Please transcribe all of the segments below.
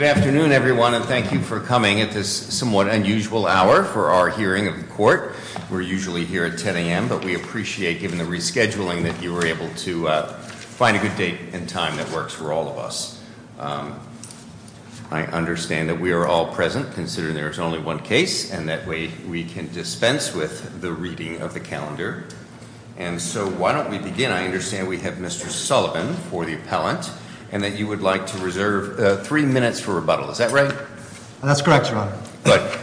Good afternoon, everyone, and thank you for coming at this somewhat unusual hour for our hearing of the Court. We're usually here at 10 a.m., but we appreciate, given the rescheduling, that you were able to find a good date and time that works for all of us. I understand that we are all present, considering there is only one case, and that way we can dispense with the reading of the calendar. And so why don't we begin? I understand we have Mr. Sullivan for the appellant, and that you would like to reserve three minutes for rebuttal. Is that right? That's correct, Your Honor.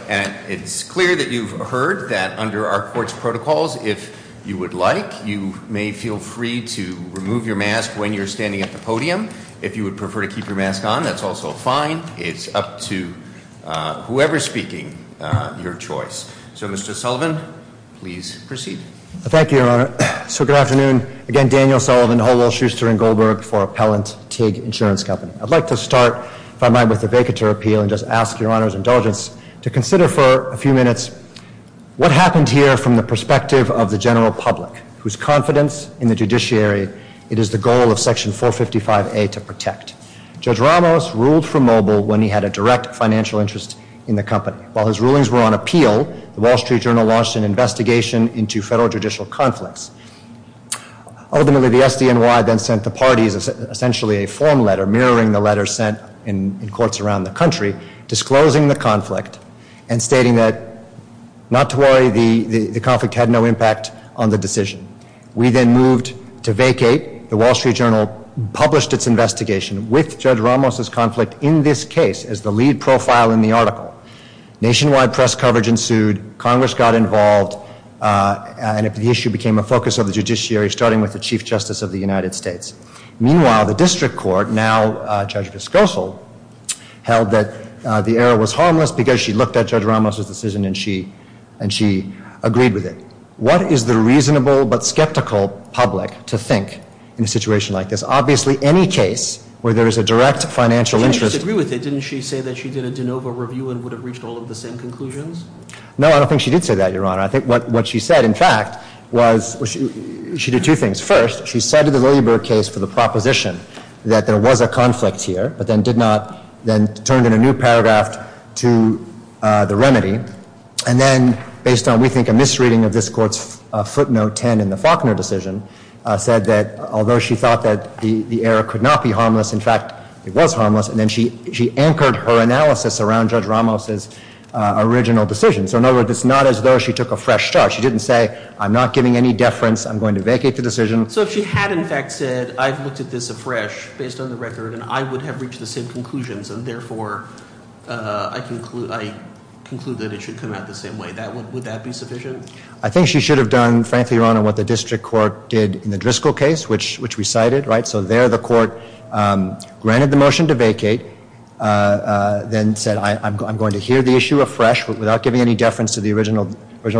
And it's clear that you've heard that under our Court's protocols, if you would like, you may feel free to remove your mask when you're standing at the podium. If you would prefer to keep your mask on, that's also fine. It's up to whoever is speaking your choice. So, Mr. Sullivan, please proceed. Thank you, Your Honor. I would like to start, if I might, with a vacatur appeal and just ask Your Honor's indulgence to consider for a few minutes what happened here from the perspective of the general public, whose confidence in the judiciary it is the goal of Section 455A to protect. Judge Ramos ruled for Mobile when he had a direct financial interest in the company. While his rulings were on appeal, the Wall Street Journal launched an investigation into SDNY then sent the parties essentially a form letter mirroring the letter sent in courts around the country, disclosing the conflict and stating that, not to worry, the conflict had no impact on the decision. We then moved to vacate. The Wall Street Journal published its investigation with Judge Ramos' conflict in this case as the lead profile in the article. Nationwide press coverage ensued. Congress got involved, and the issue became a focus of the judiciary, starting with the Chief Justice of the United States. Meanwhile, the district court, now Judge Viscoso, held that the error was harmless because she looked at Judge Ramos' decision and she agreed with it. What is the reasonable but skeptical public to think in a situation like this? Obviously, any case where there is a direct financial interest... You disagree with it. Didn't she say that she did a de novo review and would have reached all of the same conclusions? No, I don't think she did say that, Your Honor. I think what she said, in fact, was she did two things. First, she cited the Lillieburg case for the proposition that there was a conflict here, but then did not, then turned in a new paragraph to the remedy, and then based on, we think, a misreading of this Court's footnote 10 in the Faulkner decision, said that although she thought that the error could not be harmless, in fact, it was harmless, and then she anchored her analysis around Judge Ramos' original decision. So, in other So, if she had, in fact, said, I've looked at this afresh, based on the record, and I would have reached the same conclusions, and therefore, I conclude that it should come out the same way, would that be sufficient? I think she should have done, frankly, Your Honor, what the District Court did in the Driscoll case, which we cited, right? So, there the Court granted the motion to vacate, then said, I'm going to hear the issue afresh, without giving any deference to the original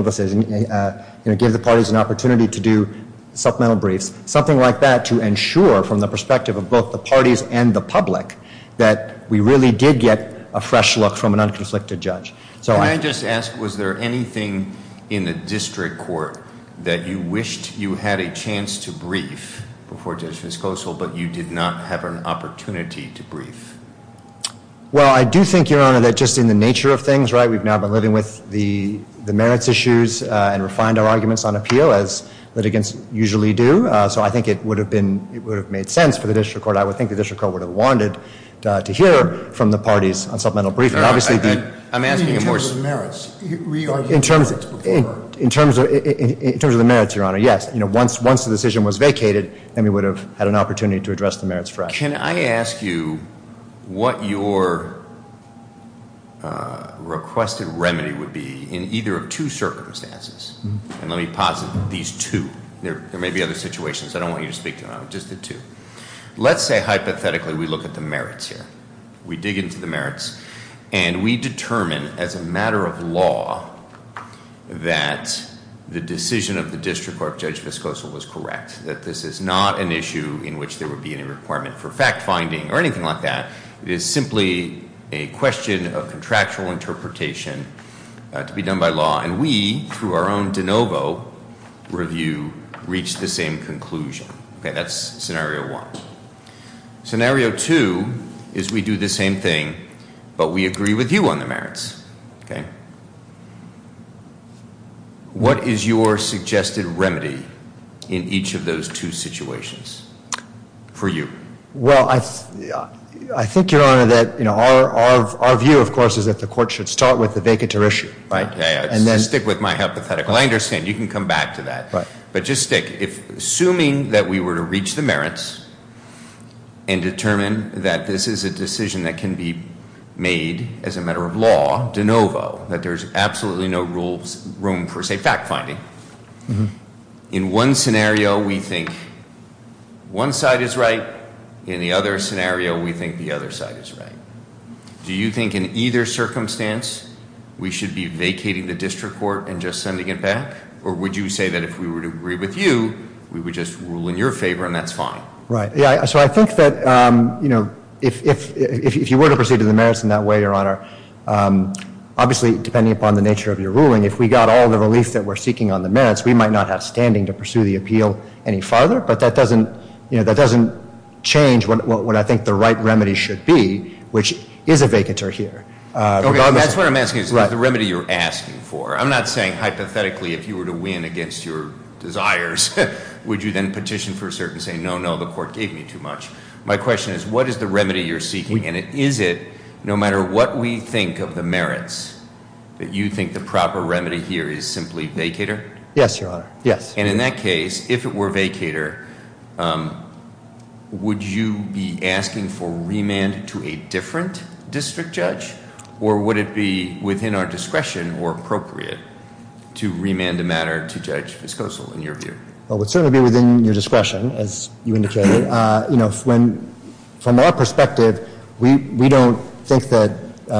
decision, you know, give the parties an opportunity to do supplemental briefs, something like that to ensure, from the perspective of both the parties and the public, that we really did get a fresh look from an unconflicted judge. Can I just ask, was there anything in the District Court that you wished you had a chance to brief before Judge Viscoso, but you did not have an opportunity to brief? Well, I do think, Your Honor, that just in the nature of things, right, we've now been with the merits issues, and refined our arguments on appeal, as litigants usually do, so I think it would have been, it would have made sense for the District Court, I would think the District Court would have wanted to hear from the parties on supplemental briefs. I'm asking in terms of the merits, re-argue the merits before? In terms of the merits, Your Honor, yes, you know, once the decision was vacated, then we would have had an opportunity to address the merits fresh. Can I ask you what your requested remedy would be in either of two circumstances? And let me posit these two, there may be other situations, I don't want you to speak to them, just the two. Let's say, hypothetically, we look at the merits here. We dig into the merits, and we determine, as a matter of law, that the decision of the District Court Judge Viscoso was correct. That this is not an issue in which there would be any requirement for fact finding, or anything like that. It is simply a question of contractual interpretation to be done by law. And we, through our own de novo review, reach the same conclusion. Okay, that's scenario one. Scenario two is we do the same thing, but we agree with you on the merits, okay? What is your suggested remedy in each of those two situations, for you? Well, I think, Your Honor, that our view, of course, is that the court should start with the vacanter issue. Right, yeah, yeah, stick with my hypothetical. I understand, you can come back to that. But just stick, assuming that we were to reach the merits and determine that this is a decision that can be made as a matter of law, de novo. That there's absolutely no room for, say, fact finding. In one scenario, we think one side is right. In the other scenario, we think the other side is right. Do you think in either circumstance, we should be vacating the district court and just sending it back? Or would you say that if we were to agree with you, we would just rule in your favor and that's fine? Right, yeah, so I think that if you were to proceed to the merits in that way, Your Honor. Obviously, depending upon the nature of your ruling, if we got all the relief that we're seeking on the merits, we might not have standing to pursue the appeal any farther. But that doesn't change what I think the right remedy should be, which is a vacanter here. Okay, that's what I'm asking, is the remedy you're asking for. I'm not saying hypothetically, if you were to win against your desires, would you then petition for cert and say, no, no, the court gave me too much. My question is, what is the remedy you're seeking? And is it, no matter what we think of the merits, that you think the proper remedy here is simply vacater? Yes, Your Honor, yes. And in that case, if it were vacater, would you be asking for remand to a different district judge, or would it be within our discretion or appropriate to remand a matter to Judge Viscoso in your view? Well, it would certainly be within your discretion, as you indicated. From our perspective, we don't think that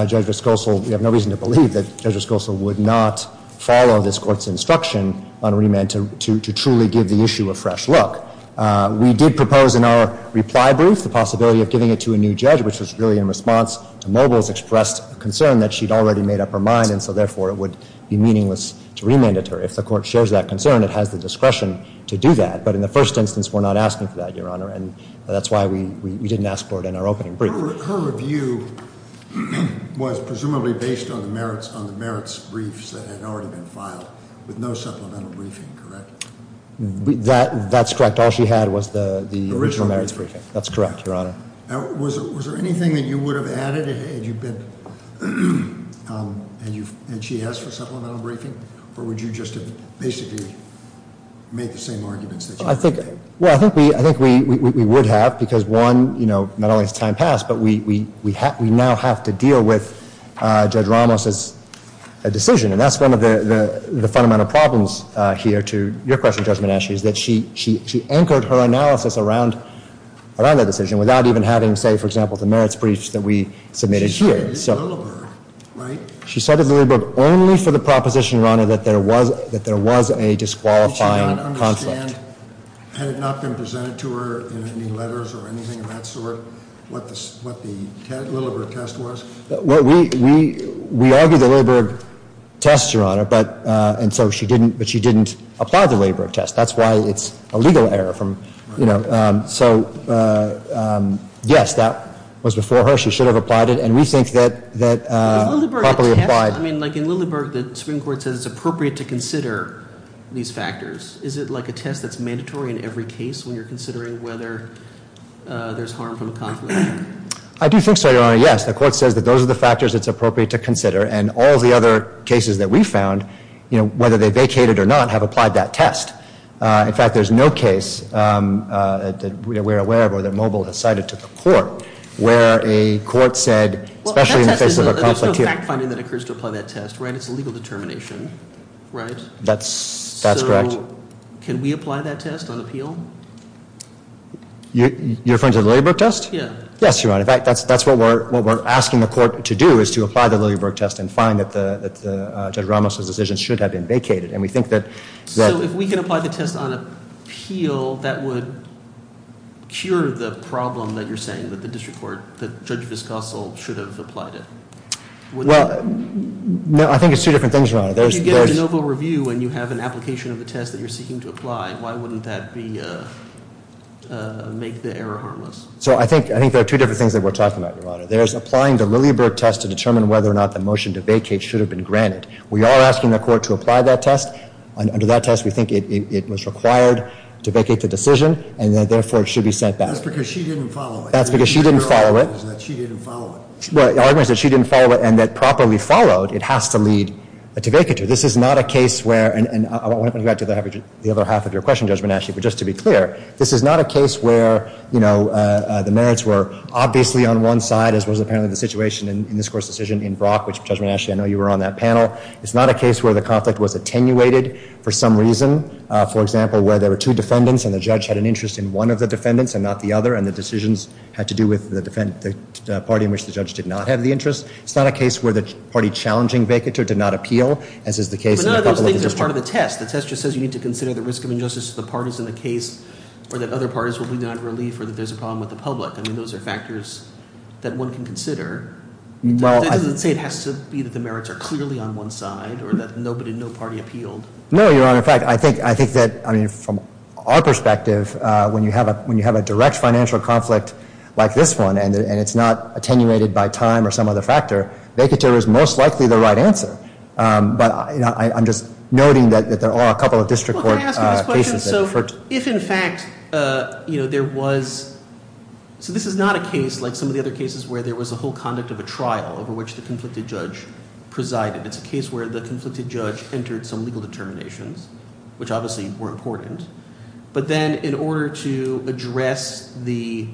Judge Viscoso, we have no reason to believe that Judge Viscoso would not follow this court's instruction on remand to truly give the issue a fresh look. We did propose in our reply brief the possibility of giving it to a new judge, which was really in response to Mogles' expressed concern that she'd already made up her mind, and so therefore it would be meaningless to remand it to her. And if the court shares that concern, it has the discretion to do that, but in the first instance, we're not asking for that, Your Honor. And that's why we didn't ask for it in our opening brief. Her review was presumably based on the merits briefs that had already been filed, with no supplemental briefing, correct? That's correct. All she had was the original merits briefing. That's correct, Your Honor. Was there anything that you would have added had you been, had she asked for a remand, that you would have basically made the same arguments that you were making? Well, I think we would have, because one, not only has time passed, but we now have to deal with Judge Ramos' decision. And that's one of the fundamental problems here to your question, Judge Monashi, is that she anchored her analysis around that decision without even having, say, for example, the merits briefs that we submitted here. She said it in Lilliburg, right? That there was a disqualifying conflict. Did she not understand, had it not been presented to her in any letters or anything of that sort, what the Lilliburg test was? Well, we argued the Lilliburg test, Your Honor, but, and so she didn't apply the Lilliburg test. That's why it's a legal error from, you know, so yes, that was before her. She should have applied it, and we think that properly applied. I mean, like in Lilliburg, the Supreme Court says it's appropriate to consider these factors. Is it like a test that's mandatory in every case when you're considering whether there's harm from a conflict? I do think so, Your Honor, yes. The court says that those are the factors it's appropriate to consider, and all the other cases that we found, you know, whether they vacated or not, have applied that test. In fact, there's no case that we're aware of or that Mobile has cited to the court where a court said, especially in the face of a conflict here. There's no fact finding that occurs to apply that test, right? It's a legal determination, right? That's correct. So, can we apply that test on appeal? You're referring to the Lilliburg test? Yeah. Yes, Your Honor, in fact, that's what we're asking the court to do, is to apply the Lilliburg test and find that Judge Ramos' decision should have been vacated, and we think that. So, if we can apply the test on appeal, that would cure the problem that you're saying that the district court, that Judge Viscoso should have applied it? Well, no, I think it's two different things, Your Honor. If you get a novel review and you have an application of a test that you're seeking to apply, why wouldn't that make the error harmless? So, I think there are two different things that we're talking about, Your Honor. There's applying the Lilliburg test to determine whether or not the motion to vacate should have been granted. We are asking the court to apply that test, and under that test, we think it was required to vacate the decision, and therefore, it should be sent back. That's because she didn't follow it. That's because she didn't follow it. The argument is that she didn't follow it. Well, the argument is that she didn't follow it, and that properly followed, it has to lead to vacature. This is not a case where, and I want to go back to the other half of your question, Judge Monash, but just to be clear, this is not a case where the merits were obviously on one side, as was apparently the situation in this court's decision in Brock, which, Judge Monash, I know you were on that panel. It's not a case where the conflict was attenuated for some reason. For example, where there were two defendants, and the judge had an interest in one of the defendants and not the other, and the decisions had to do with the party in which the judge did not have the interest. It's not a case where the party challenging vacature did not appeal, as is the case in the public administration. But none of those things are part of the test. The test just says you need to consider the risk of injustice to the parties in the case, or that other parties will be denied relief, or that there's a problem with the public. I mean, those are factors that one can consider. That doesn't say it has to be that the merits are clearly on one side, or that no party appealed. No, you're on the fact. I think that, I mean, from our perspective, when you have a direct financial conflict like this one, and it's not attenuated by time or some other factor, vacature is most likely the right answer. But I'm just noting that there are a couple of district court cases that- Well, can I ask you this question, so if in fact there was, so this is not a case like some of the other cases where there was a whole conduct of a trial over which the conflicted judge presided. It's a case where the conflicted judge entered some legal determinations, which obviously were important. But then, in order to address the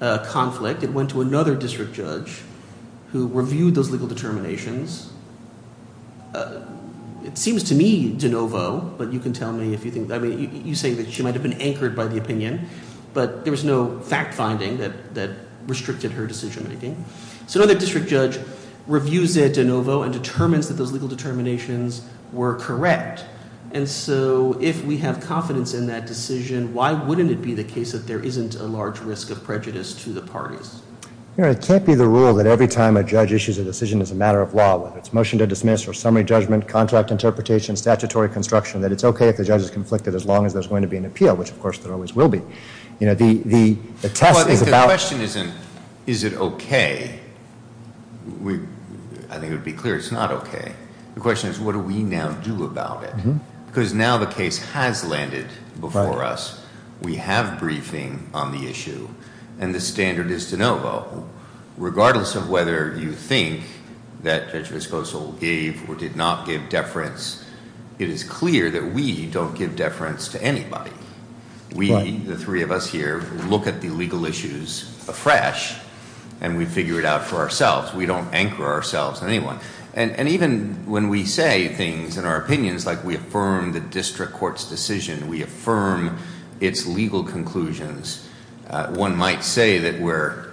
conflict, it went to another district judge who reviewed those legal determinations. It seems to me de novo, but you can tell me if you think, I mean, you say that she might have been anchored by the opinion. But there was no fact finding that restricted her decision making. So another district judge reviews it de novo and determines that those legal determinations were correct. And so if we have confidence in that decision, why wouldn't it be the case that there isn't a large risk of prejudice to the parties? It can't be the rule that every time a judge issues a decision as a matter of law, whether it's motion to dismiss or summary judgment, contract interpretation, statutory construction, that it's okay if the judge is conflicted as long as there's going to be an appeal, which of course there always will be. The test is about- The question isn't, is it okay? I think it would be clear it's not okay. The question is, what do we now do about it? because now the case has landed before us. We have briefing on the issue, and the standard is de novo. Regardless of whether you think that Judge Vesposal gave or did not give deference, it is clear that we don't give deference to anybody. We, the three of us here, look at the legal issues afresh, and we figure it out for ourselves. We don't anchor ourselves on anyone. And even when we say things in our opinions, like we affirm the district court's decision, we affirm its legal conclusions. One might say that we're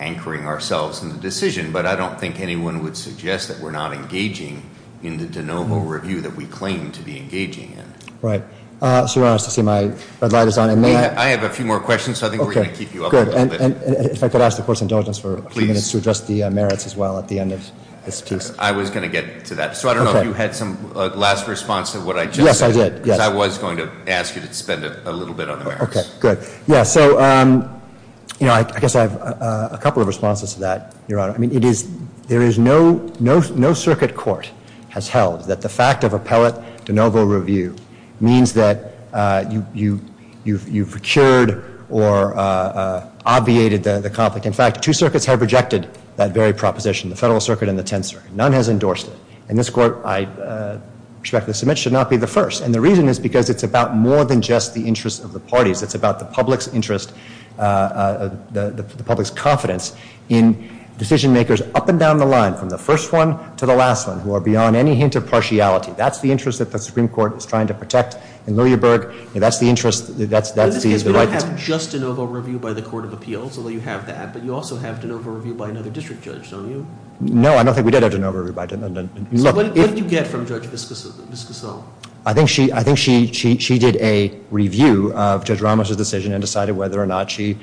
anchoring ourselves in the decision, but I don't think anyone would suggest that we're not engaging in the de novo review that we claim to be engaging in. Right, so you're honest to see my red light is on. And may I- I have a few more questions, so I think we're going to keep you up a little bit. Good, and if I could ask the court's indulgence for a few minutes to address the merits as well at the end of this piece. I was going to get to that. So I don't know if you had some last response to what I just said. Yes, I did, yes. Because I was going to ask you to spend a little bit on the merits. Okay, good. Yeah, so I guess I have a couple of responses to that, Your Honor. I mean, it is, there is no circuit court has held that the fact of appellate de novo review means that you've cured or obviated the conflict. In fact, two circuits have rejected that very proposition, the Federal Circuit and the Tenth Circuit. None has endorsed it. And this court, I respectfully submit, should not be the first. And the reason is because it's about more than just the interest of the parties. It's about the public's interest, the public's confidence in decision makers up and down the line, from the first one to the last one, who are beyond any hint of partiality. That's the interest that the Supreme Court is trying to protect in Lillieberg. And that's the interest, that's the- In this case, we don't have just de novo review by the Court of Appeals, although you have that. But you also have de novo review by another district judge, don't you? No, I don't think we did have de novo review by de novo. So what did you get from Judge Viscasol? I think she did a review of Judge Ramos' decision and decided whether or not she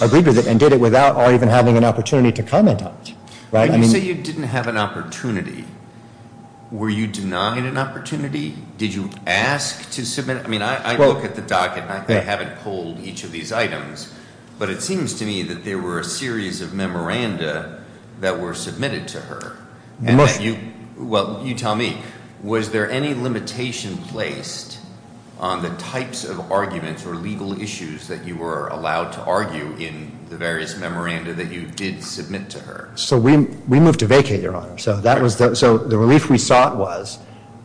agreed with it and did it without even having an opportunity to comment on it. Right, I mean- When you say you didn't have an opportunity, were you denied an opportunity? Did you ask to submit? I mean, I look at the docket and I haven't pulled each of these items. But it seems to me that there were a series of memoranda that were submitted to her. And that you, well, you tell me, was there any limitation placed on the types of arguments or legal issues that you were allowed to argue in the various memoranda that you did submit to her? So we moved to vacate, Your Honor. So the relief we sought was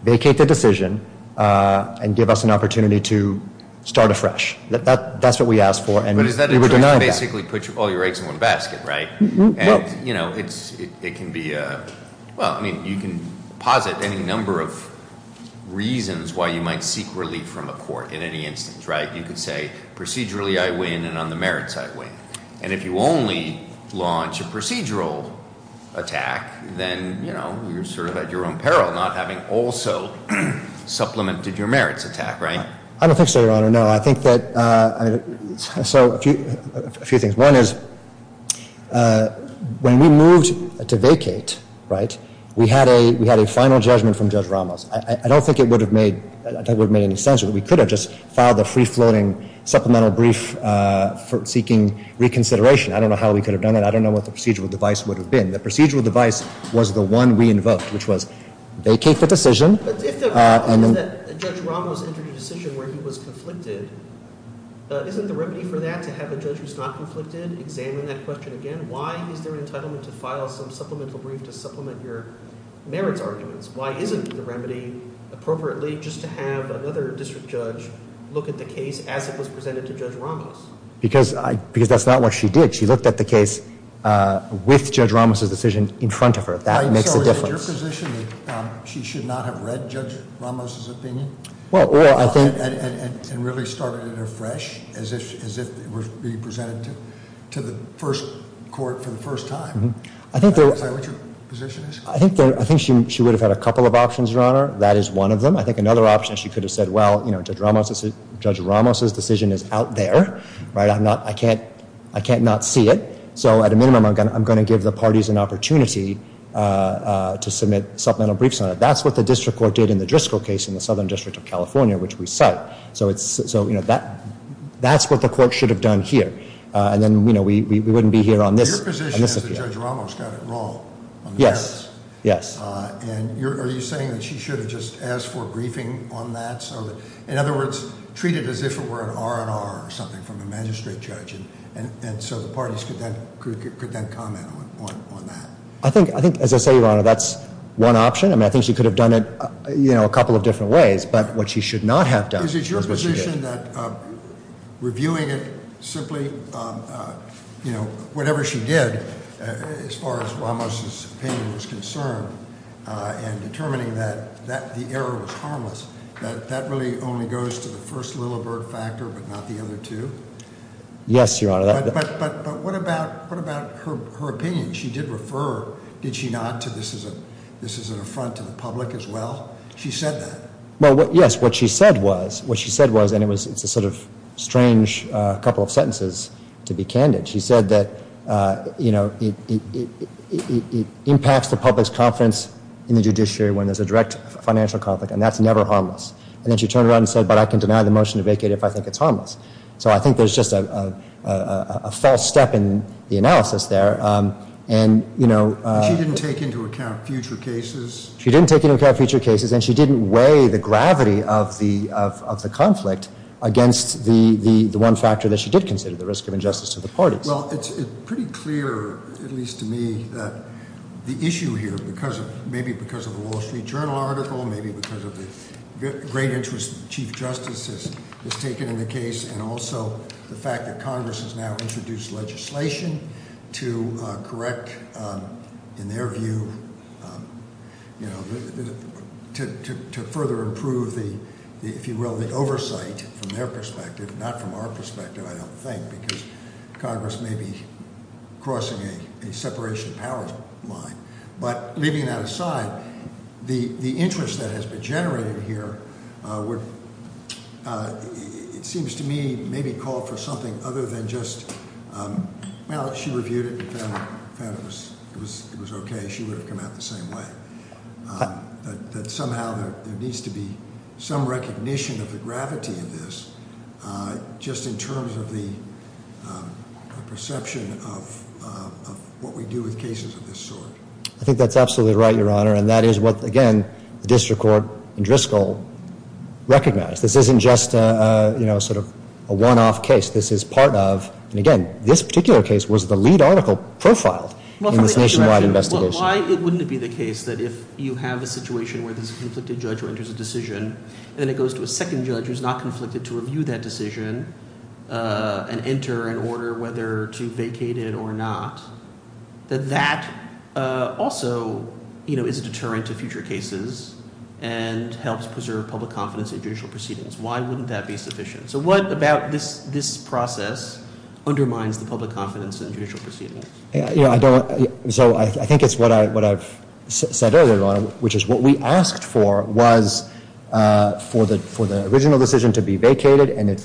vacate the decision and give us an opportunity to start afresh. That's what we asked for and we were denied that. But is that basically put all your eggs in one basket, right? And it can be, well, I mean, you can posit any number of reasons why you might seek relief from a court in any instance, right? You could say, procedurally I win and on the merits I win. And if you only launch a procedural attack, then you're sort of at your own peril, not having also supplemented your merits attack, right? I don't think so, Your Honor, no. I think that, so a few things. One is, when we moved to vacate, right, we had a final judgment from Judge Ramos. I don't think it would have made any sense that we could have just filed a free-floating supplemental brief for seeking reconsideration. I don't know how we could have done it. I don't know what the procedural device would have been. The procedural device was the one we invoked, which was vacate the decision. But if the problem is that Judge Ramos entered a decision where he was conflicted, isn't the remedy for that to have a judge who's not conflicted examine that question again? Why is there an entitlement to file some supplemental brief to supplement your merits arguments? Why isn't the remedy appropriately just to have another district judge look at the case as it was presented to Judge Ramos? Because that's not what she did. She looked at the case with Judge Ramos' decision in front of her. That makes a difference. So is it your position that she should not have read Judge Ramos' opinion? Well, I think- And really started it afresh, as if it were being presented to the first court for the first time. Is that what your position is? I think she would have had a couple of options, Your Honor. That is one of them. I think another option, she could have said, well, Judge Ramos' decision is out there. Right, I can't not see it. So at a minimum, I'm going to give the parties an opportunity to submit supplemental briefs on it. That's what the district court did in the Driscoll case in the Southern District of California, which we cite. So that's what the court should have done here. And then we wouldn't be here on this- Your position is that Judge Ramos got it wrong on the merits? Yes, yes. And are you saying that she should have just asked for a briefing on that? In other words, treat it as if it were an R&R or something from the magistrate judge. And so the parties could then comment on that. I think, as I say, Your Honor, that's one option. I mean, I think she could have done it a couple of different ways, but what she should not have done is what she did. Is it your position that reviewing it simply, whatever she did, as far as Ramos' opinion was concerned, and determining that the error was harmless, that that really only goes to the first Lilleberg factor, but not the other two? Yes, Your Honor. But what about her opinion? She did refer, did she not, to this is an affront to the public as well? She said that. Well, yes, what she said was, and it's a sort of strange couple of sentences to be candid. She said that it impacts the public's confidence in the judiciary when there's a direct financial conflict, and that's never harmless. And then she turned around and said, but I can deny the motion to vacate if I think it's harmless. So I think there's just a false step in the analysis there. And- She didn't take into account future cases? She didn't take into account future cases, and she didn't weigh the gravity of the conflict against the one factor that she did consider, the risk of injustice to the parties. Well, it's pretty clear, at least to me, that the issue here, maybe because of a Wall Street Journal article, maybe because of the great interest the Chief Justice has taken in the case, and also the fact that Congress has now introduced legislation to correct, in their view, to further improve the, if you will, the oversight from their perspective, not from our perspective, I don't think, because Congress may be crossing a separation of powers line. But leaving that aside, the interest that has been generated here would, it seems to me, may be called for something other than just, well, she reviewed it and found it was okay, she would have come out the same way. That somehow there needs to be some recognition of the gravity of this, just in terms of the perception of what we do with cases of this sort. I think that's absolutely right, Your Honor, and that is what, again, the district court in Driscoll recognized. This isn't just a sort of a one-off case. This is part of, and again, this particular case was the lead article profiled in this nationwide investigation. Why wouldn't it be the case that if you have a situation where there's a conflicted judge who enters a decision, then it goes to a second judge who's not conflicted to review that decision and enter an order whether to vacate it or not. That that also is a deterrent to future cases and helps preserve public confidence in judicial proceedings. Why wouldn't that be sufficient? So what about this process undermines the public confidence in judicial proceedings? So I think it's what I've said earlier, Your Honor, which is what we asked for was for the original decision to be vacated and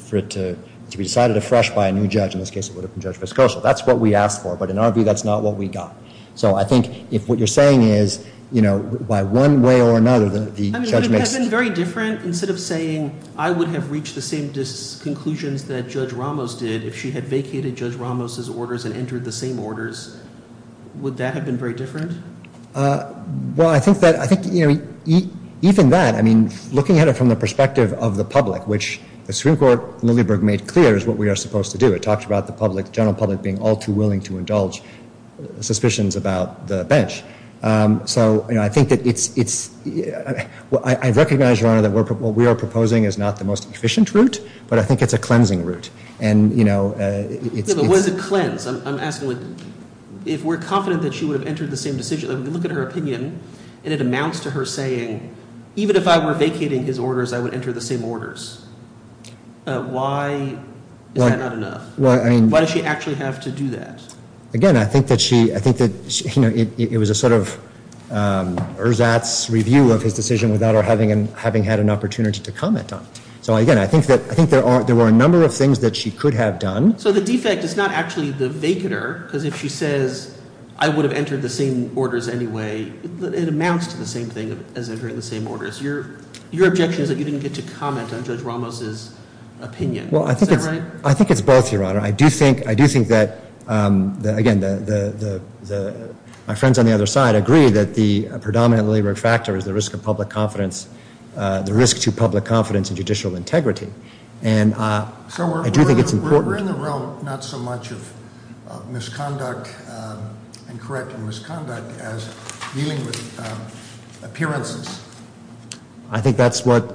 for it to be decided afresh by a new judge, in this case it would have been Judge Viscoso. That's what we asked for, but in our view, that's not what we got. So I think if what you're saying is, by one way or another, the judge makes- I mean, would it have been very different instead of saying, I would have reached the same conclusions that Judge Ramos did if she had vacated Judge Ramos' orders and entered the same orders? Would that have been very different? Well, I think that even that, I mean, looking at it from the perspective of the public, which the Supreme Court in Lilyburg made clear is what we are supposed to do. It talked about the public, the general public, being all too willing to indulge suspicions about the bench. So I think that it's, I recognize, Your Honor, that what we are proposing is not the most efficient route, but I think it's a cleansing route. And, you know, it's- Yeah, but what is a cleanse? I'm asking, if we're confident that she would have entered the same decision, if we look at her opinion and it amounts to her saying, even if I were vacating his orders, I would enter the same orders, why is that not enough? Why does she actually have to do that? Again, I think that she, I think that it was a sort of ersatz review of his decision without her having had an opportunity to comment on it. So again, I think that there were a number of things that she could have done. So the defect is not actually the vacater, because if she says, I would have entered the same orders anyway, it amounts to the same thing as entering the same orders. Your objection is that you didn't get to comment on Judge Ramos' opinion. Is that right? I think it's both, Your Honor. I do think that, again, my friends on the other side agree that the predominant labor factor is the risk to public confidence and judicial integrity. And I do think it's important- So we're in the realm, not so much of misconduct and correcting misconduct as dealing with appearances. I think that's what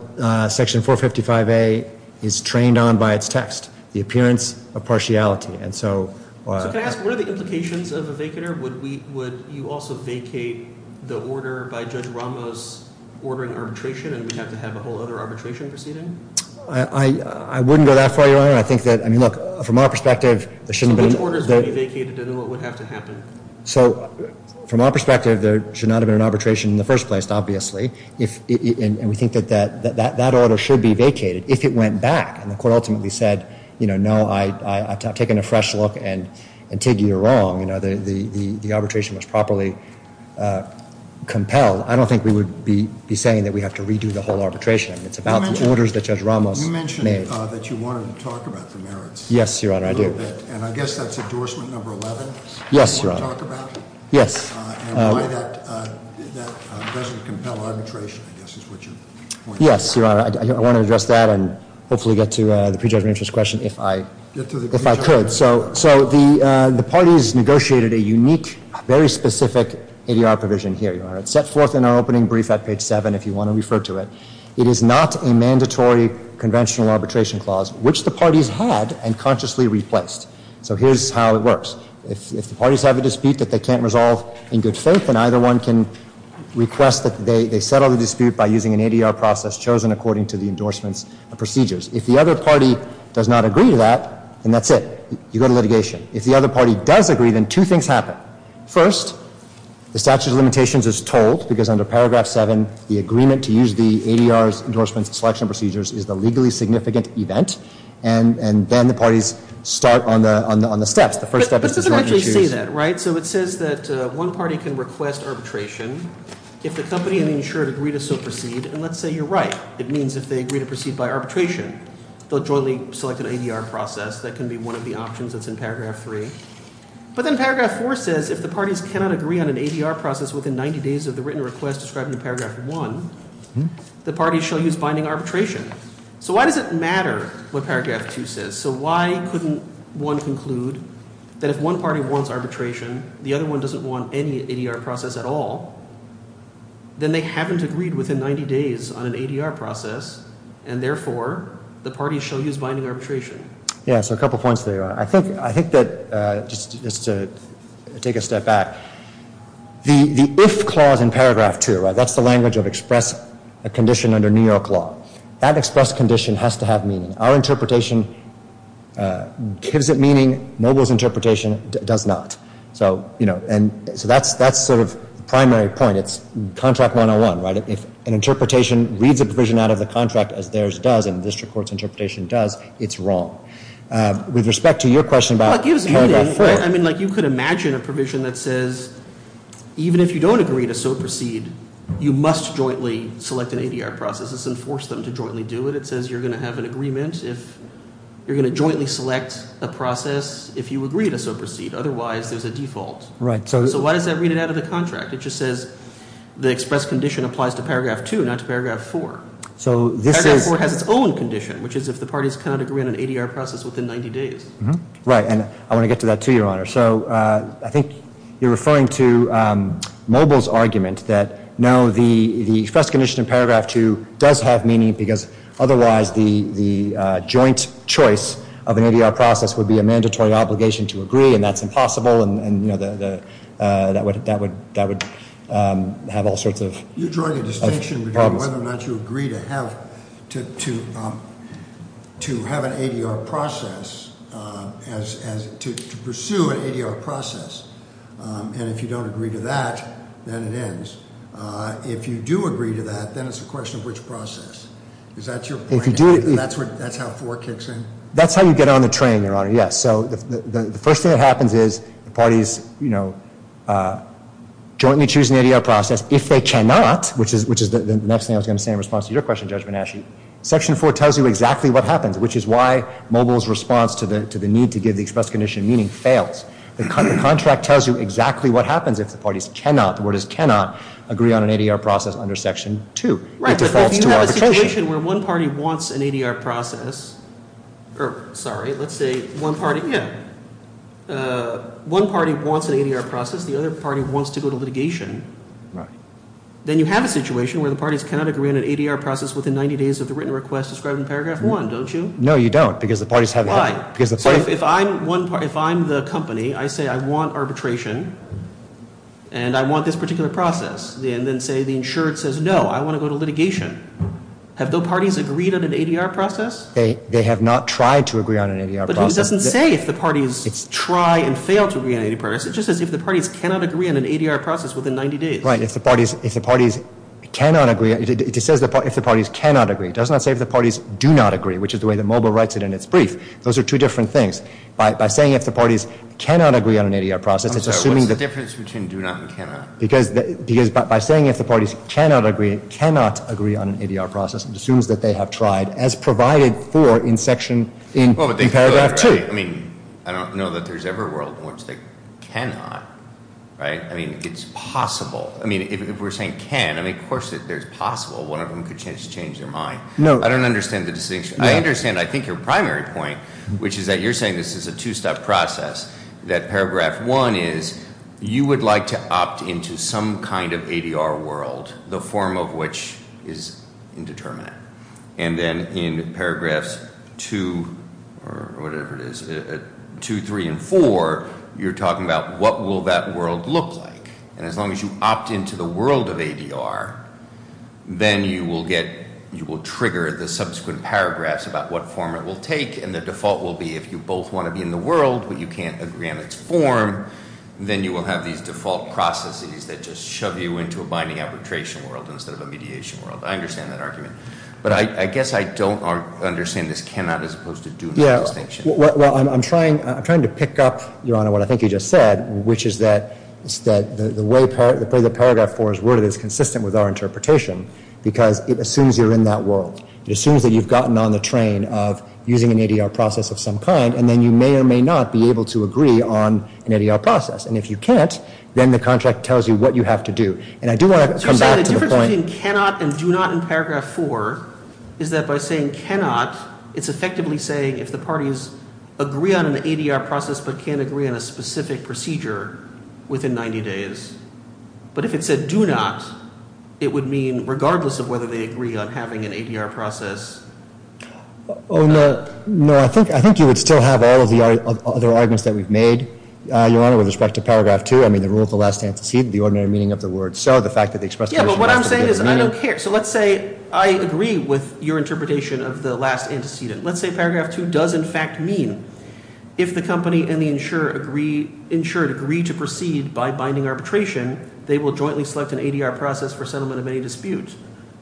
Section 455A is trained on by its text, the appearance of partiality. And so- So can I ask, what are the implications of a vacater? Would you also vacate the order by Judge Ramos ordering arbitration and we'd have to have a whole other arbitration proceeding? I wouldn't go that far, Your Honor. I think that, I mean, look, from our perspective- So which orders would be vacated and what would have to happen? So, from our perspective, there should not have been an arbitration in the first place, obviously. And we think that that order should be vacated if it went back and the court ultimately said, no, I've taken a fresh look and, Tig, you're wrong. The arbitration was properly compelled. I don't think we would be saying that we have to redo the whole arbitration. It's about the orders that Judge Ramos made. You mentioned that you wanted to talk about the merits. Yes, Your Honor, I do. And I guess that's endorsement number 11? Yes, Your Honor. You want to talk about it? Yes. And why that doesn't compel arbitration, I guess is what you're pointing to. Yes, Your Honor, I want to address that and hopefully get to the prejudged interest question if I could. So the parties negotiated a unique, very specific ADR provision here, Your Honor. It's set forth in our opening brief at page seven if you want to refer to it. It is not a mandatory conventional arbitration clause, which the parties had and consciously replaced. So here's how it works. If the parties have a dispute that they can't resolve in good faith, then either one can request that they settle the dispute by using an ADR process chosen according to the endorsements of procedures. If the other party does not agree to that, then that's it. You go to litigation. If the other party does agree, then two things happen. First, the statute of limitations is told because under paragraph seven, the agreement to use the ADR's endorsement selection procedures is the legally significant event. And then the parties start on the steps. But it doesn't actually say that, right? So it says that one party can request arbitration if the company and the insured agree to so proceed, and let's say you're right. It means if they agree to proceed by arbitration, they'll jointly select an ADR process. That can be one of the options that's in paragraph three. But then paragraph four says if the parties cannot agree on an ADR process within 90 days of the written request described in paragraph one, the parties shall use binding arbitration. So why does it matter what paragraph two says? So why couldn't one conclude that if one party wants arbitration, the other one doesn't want any ADR process at all, then they haven't agreed within 90 days on an ADR process, and therefore, the parties shall use binding arbitration. Yeah, so a couple points there. I think that, just to take a step back, the if clause in paragraph two, right? That's the language of express a condition under New York law. That express condition has to have meaning. Our interpretation gives it meaning. Mobile's interpretation does not. So that's sort of primary point. It's contract 101, right? If an interpretation reads a provision out of the contract as theirs does and district court's interpretation does, it's wrong. With respect to your question about paragraph four. I mean, you could imagine a provision that says, even if you don't agree to so proceed, you must jointly select an ADR process. It's enforced them to jointly do it. It says you're going to have an agreement if you're going to jointly select a process if you agree to so proceed. Otherwise, there's a default. Right. So why does that read it out of the contract? It just says the express condition applies to paragraph two, not to paragraph four. So this paragraph four has its own condition, which is if the parties cannot agree on an ADR process within 90 days. Right, and I want to get to that too, Your Honor. So I think you're referring to Mobile's argument that, no, the express condition in paragraph two does have meaning, because otherwise, the joint choice of an ADR process would be a mandatory obligation to agree, and that's impossible. And that would have all sorts of problems. You're drawing a distinction between whether or not you agree to have an ADR process as to pursue an ADR process. And if you don't agree to that, then it ends. If you do agree to that, then it's a question of which process. Is that your point? If you do- That's how four kicks in? That's how you get on the train, Your Honor, yes. So the first thing that happens is the parties jointly choose an ADR process. If they cannot, which is the next thing I was going to say in response to your question, Judge Bonasci. Section four tells you exactly what happens, which is why Mobile's response to the need to give the express condition meaning fails. The contract tells you exactly what happens if the parties cannot, the word is cannot, agree on an ADR process under section two. It defaults to arbitration. Right, but if you have a situation where one party wants an ADR process, or sorry, let's say one party, yeah. One party wants an ADR process, the other party wants to go to litigation. Then you have a situation where the parties cannot agree on an ADR process within 90 days of the written request described in paragraph one, don't you? No, you don't, because the parties have- Right, so if I'm the company, I say I want arbitration, and I want this particular process. And then say the insured says no, I want to go to litigation. Have the parties agreed on an ADR process? They have not tried to agree on an ADR process. But who doesn't say if the parties try and fail to agree on an ADR process? It just says if the parties cannot agree on an ADR process within 90 days. Right, if the parties cannot agree, it says if the parties cannot agree. It does not say if the parties do not agree, which is the way that Mobile writes it in its brief. Those are two different things. By saying if the parties cannot agree on an ADR process, it's assuming that- I'm sorry, what's the difference between do not and cannot? Because by saying if the parties cannot agree, cannot agree on an ADR process, it assumes that they have tried as provided for in section, in paragraph two. I mean, I don't know that there's ever a world in which they cannot, right? I mean, it's possible. I mean, if we're saying can, I mean, of course, there's possible. One of them could just change their mind. I don't understand the distinction. I understand, I think, your primary point, which is that you're saying this is a two-step process. That paragraph one is, you would like to opt into some kind of ADR world, the form of which is indeterminate. And then in paragraphs two, or whatever it is, two, three, and four. You're talking about what will that world look like? And as long as you opt into the world of ADR, then you will get, you will trigger the subsequent paragraphs about what form it will take. And the default will be, if you both want to be in the world, but you can't agree on its form, then you will have these default processes that just shove you into a binding arbitration world instead of a mediation world. I understand that argument. But I guess I don't understand this cannot as opposed to do not distinction. Well, I'm trying to pick up, Your Honor, what I think you just said, which is that the way that paragraph four is worded is consistent with our interpretation. Because it assumes you're in that world. It assumes that you've gotten on the train of using an ADR process of some kind. And then you may or may not be able to agree on an ADR process. And if you can't, then the contract tells you what you have to do. And I do want to come back to the point- It's effectively saying, if the parties agree on an ADR process, but can't agree on a specific procedure within 90 days. But if it said do not, it would mean regardless of whether they agree on having an ADR process or not. No, I think you would still have all of the other arguments that we've made, Your Honor, with respect to paragraph two. I mean, the rule of the last antecedent, the ordinary meaning of the word. So the fact that they expressed- Yeah, but what I'm saying is I don't care. So let's say I agree with your interpretation of the last antecedent. Let's say paragraph two does in fact mean, if the company and the insured agree to proceed by binding arbitration, they will jointly select an ADR process for settlement of any dispute.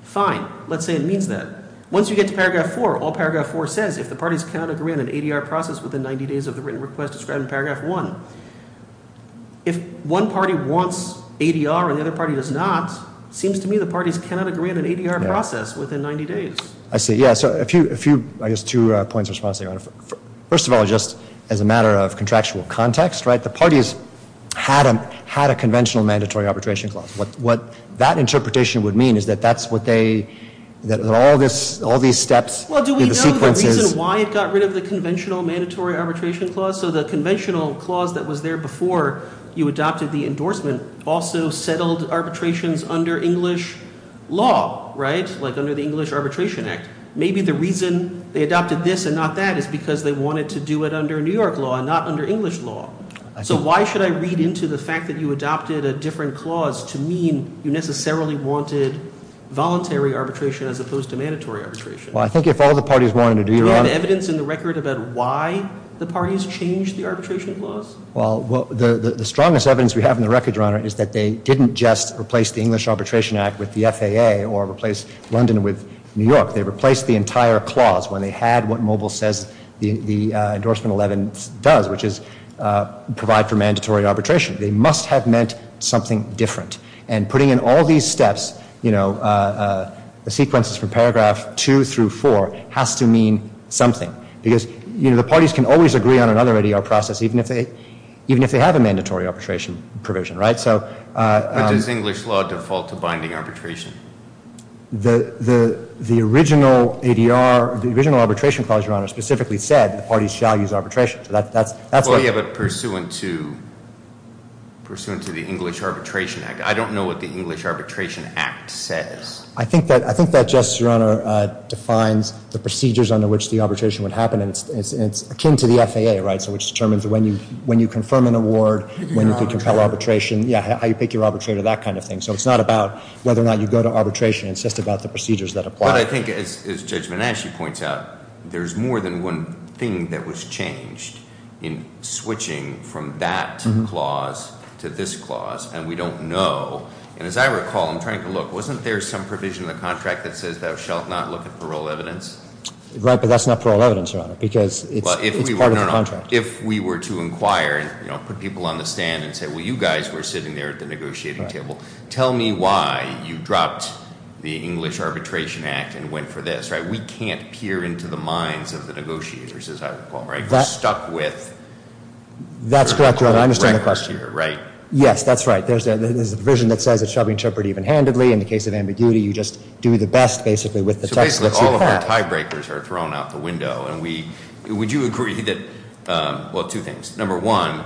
Fine. Let's say it means that. Once you get to paragraph four, all paragraph four says, if the parties cannot agree on an ADR process within 90 days of the written request described in paragraph one. If one party wants ADR and the other party does not, it seems to me the parties cannot agree on an ADR process within 90 days. I see. Yeah, so a few, I guess, two points of response, Your Honor. First of all, just as a matter of contractual context, right, the parties had a conventional mandatory arbitration clause. What that interpretation would mean is that that's what they, that all these steps in the sequences- Well, do we know the reason why it got rid of the conventional mandatory arbitration clause? So the conventional clause that was there before you adopted the endorsement also settled arbitrations under English law, right? Like under the English Arbitration Act. Maybe the reason they adopted this and not that is because they wanted to do it under New York law and not under English law. So why should I read into the fact that you adopted a different clause to mean you necessarily wanted voluntary arbitration as opposed to mandatory arbitration? Well, I think if all the parties wanted to do, Your Honor- Well, the strongest evidence we have in the record, Your Honor, is that they didn't just replace the English Arbitration Act with the FAA or replace London with New York. They replaced the entire clause when they had what Mobile says the endorsement 11 does, which is provide for mandatory arbitration. They must have meant something different. And putting in all these steps, you know, the sequences from paragraph 2 through 4 has to mean something. Because, you know, the parties can always agree on another ADR process, even if they have a mandatory arbitration provision, right? So- But does English law default to binding arbitration? The original ADR, the original arbitration clause, Your Honor, specifically said the parties shall use arbitration. So that's- Well, yeah, but pursuant to the English Arbitration Act. I don't know what the English Arbitration Act says. I think that, Justice, Your Honor, defines the procedures under which the arbitration would happen. And it's akin to the FAA, right? So which determines when you confirm an award, when you can compel arbitration. Yeah, how you pick your arbitrator, that kind of thing. So it's not about whether or not you go to arbitration. It's just about the procedures that apply. But I think, as Judge Manasci points out, there's more than one thing that was changed in switching from that clause to this clause. And we don't know. And as I recall, I'm trying to look, wasn't there some provision in the contract that says thou shalt not look at parole evidence? Right, but that's not parole evidence, Your Honor, because it's part of the contract. If we were to inquire and put people on the stand and say, well, you guys were sitting there at the negotiating table. Tell me why you dropped the English Arbitration Act and went for this, right? We can't peer into the minds of the negotiators, as I recall, right? We're stuck with- That's correct, Your Honor, I understand the question. Right? Yes, that's right. There's a provision that says it shall be interpreted even-handedly. In the case of ambiguity, you just do the best, basically, with the text that you have. So basically, all of our tie breakers are thrown out the window. And would you agree that, well, two things. Number one,